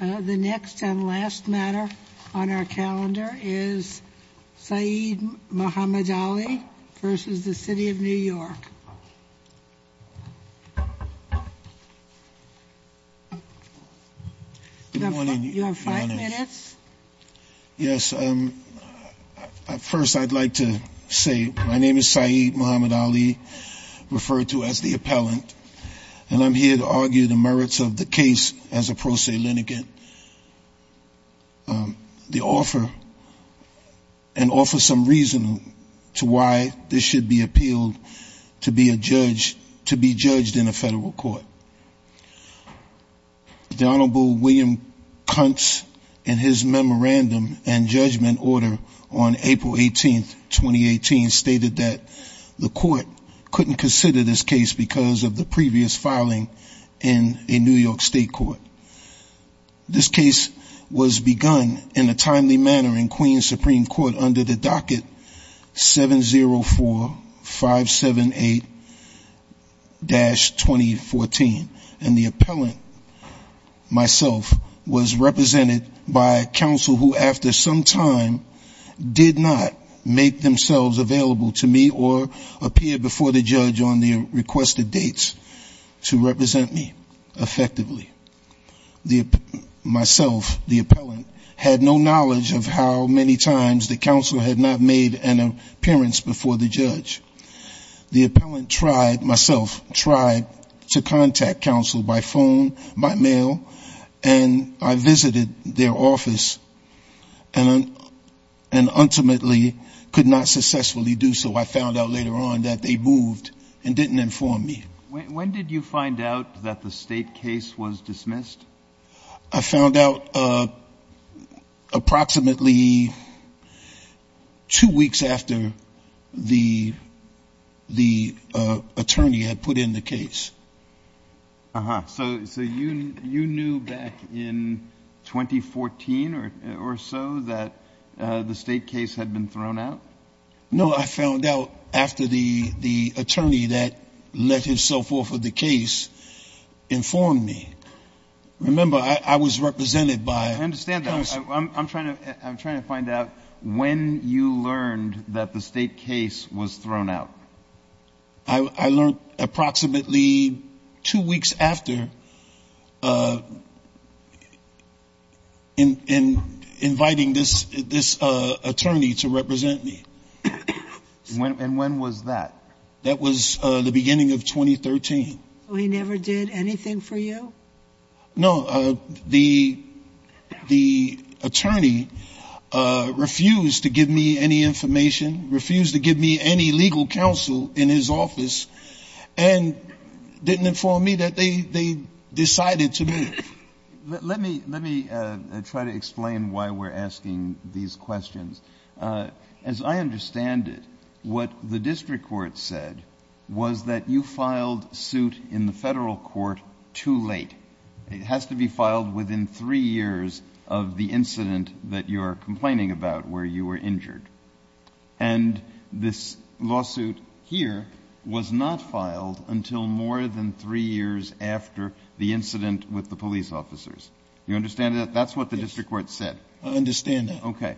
The next and last matter on our calendar is Saeed Muhammad Ali versus the City of New York. You have five minutes. Yes, first I'd like to say my name is Saeed Muhammad Ali, referred to as the appellant, and I'm here to argue the merits of the case as a pro se litigant and offer some reason to why this should be appealed to be judged in a federal court. The Honorable William Kuntz, in his memorandum and judgment order on April 18, 2018, stated that the court couldn't consider this case because of the previous filing in a New York State court. This case was begun in a timely manner in Queens Supreme Court under the docket 704578-2014, and the appellant, myself, was represented by counsel who after some time did not make themselves available to me or appear before the judge on the requested dates to represent me effectively. Myself, the appellant, had no knowledge of how many times the counsel had not made an appearance before the judge. The appellant tried, myself, tried to contact counsel by phone, by mail, and I visited their office and ultimately could not successfully do so. I found out later on that they moved and didn't inform me. When did you find out that the state case was dismissed? I found out approximately two weeks after the attorney had put in the case. Uh-huh. So you knew back in 2014 or so that the state case had been thrown out? No, I found out after the attorney that let himself off of the case informed me. Remember, I was represented by counsel. I understand that. I'm trying to find out when you learned that the state case was thrown out. I learned approximately two weeks after in inviting this attorney to represent me. And when was that? That was the beginning of 2013. So he never did anything for you? No. The attorney refused to give me any information, refused to give me any legal counsel in his office, and didn't inform me that they decided to move. Let me try to explain why we're asking these questions. As I understand it, what the district court said was that you filed suit in the Federal Court too late. It has to be filed within three years of the incident that you are complaining about where you were injured. And this lawsuit here was not filed until more than three years after the incident with the police officers. You understand that? Yes. That's what the district court said. I understand that. Okay.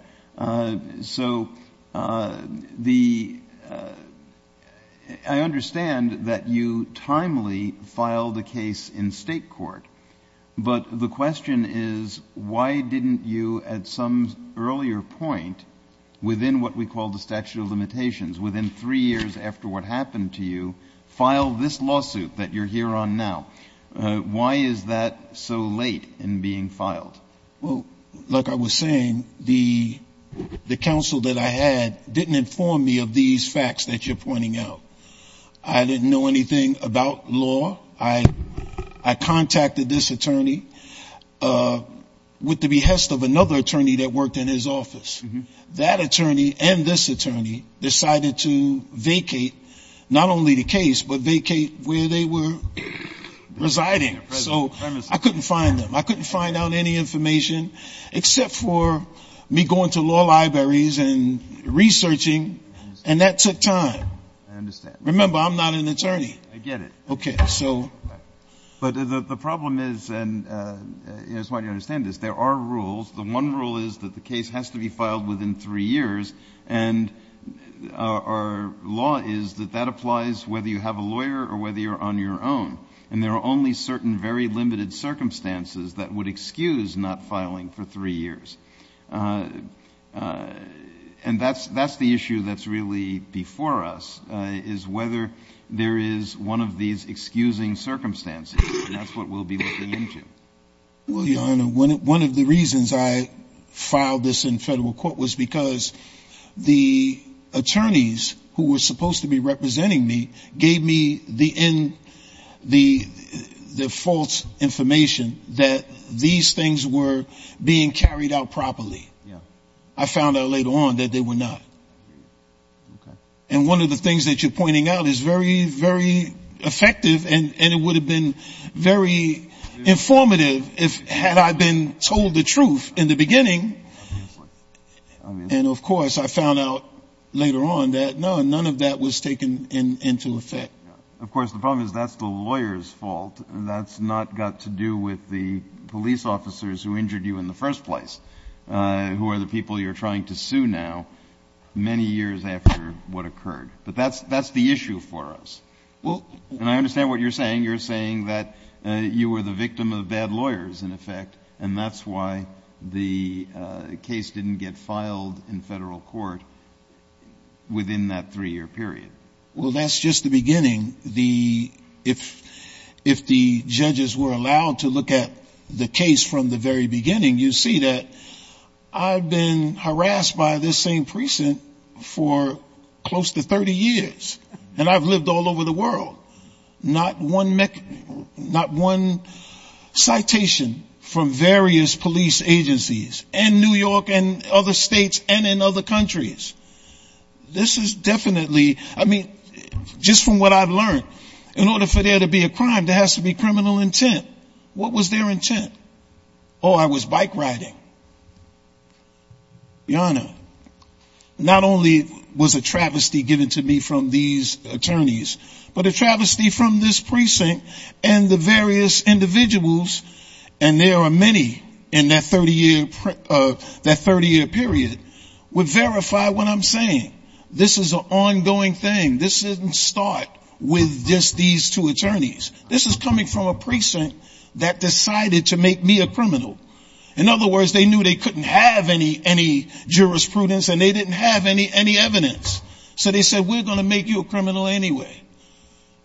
So the — I understand that you timely filed a case in state court. But the question is, why didn't you at some earlier point within what we call the statute of limitations, within three years after what happened to you, file this lawsuit that you're here on now? Why is that so late in being filed? Well, like I was saying, the counsel that I had didn't inform me of these facts that you're pointing out. I didn't know anything about law. I contacted this attorney with the behest of another attorney that worked in his office. That attorney and this attorney decided to vacate not only the case, but vacate where they were residing. So I couldn't find them. I couldn't find out any information except for me going to law libraries and researching, and that took time. I understand. Remember, I'm not an attorney. I get it. Okay. So — But the problem is, and I just want you to understand this, there are rules. The one rule is that the case has to be filed within three years, and our law is that that applies whether you have a lawyer or whether you're on your own. And there are only certain very limited circumstances that would excuse not filing for three years. And that's the issue that's really before us, is whether there is one of these excusing circumstances, and that's what we'll be looking into. Well, Your Honor, one of the reasons I filed this in federal court was because the false information that these things were being carried out properly. Yeah. I found out later on that they were not. I hear you. Okay. And one of the things that you're pointing out is very, very effective, and it would have been very informative had I been told the truth in the beginning. Obviously. And, of course, I found out later on that, no, none of that was taken into effect. Of course, the problem is that's the lawyer's fault, and that's not got to do with the police officers who injured you in the first place, who are the people you're trying to sue now, many years after what occurred. But that's the issue for us. And I understand what you're saying. You're saying that you were the victim of bad lawyers, in effect, and that's why the case didn't get filed in federal court within that three-year period. Well, that's just the beginning. If the judges were allowed to look at the case from the very beginning, you'd see that I've been harassed by this same precinct for close to 30 years. And I've lived all over the world. Not one citation from various police agencies in New York and other states and in other countries. This is definitely, I mean, just from what I've learned, in order for there to be a crime, there has to be criminal intent. What was their intent? Oh, I was bike riding. Your Honor, not only was a travesty given to me from these attorneys, but a travesty from this precinct and the various individuals, and there are many in that 30-year period, would verify what I'm saying. This is an ongoing thing. This didn't start with just these two attorneys. This is coming from a precinct that decided to make me a criminal. In other words, they knew they couldn't have any jurisprudence and they didn't have any evidence. So they said, we're going to make you a criminal anyway.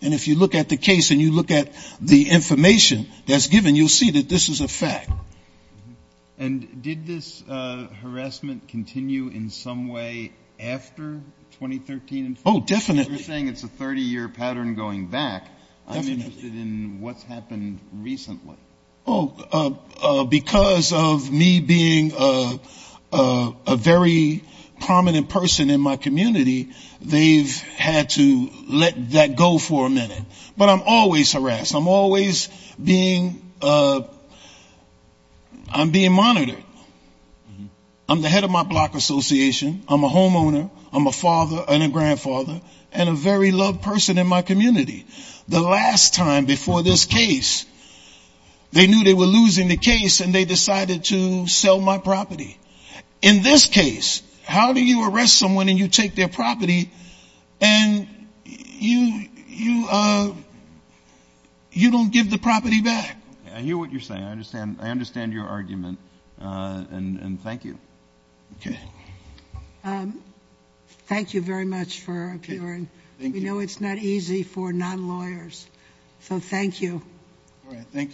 And if you look at the case and you look at the information that's given, you'll see that this is a fact. And did this harassment continue in some way after 2013? Oh, definitely. You're saying it's a 30-year pattern going back. I'm interested in what's happened recently. Oh, because of me being a very prominent person in my community, they've had to let this happen. Let that go for a minute. But I'm always harassed. I'm always being, I'm being monitored. I'm the head of my block association, I'm a homeowner, I'm a father and a grandfather, and a very loved person in my community. The last time before this case, they knew they were losing the case and they decided to sell my property. In this case, how do you arrest someone and you take their property and you don't give the property back? I hear what you're saying. I understand your argument. And thank you. Okay. Thank you very much for appearing. We know it's not easy for non-lawyers. So thank you. All right. Thank you.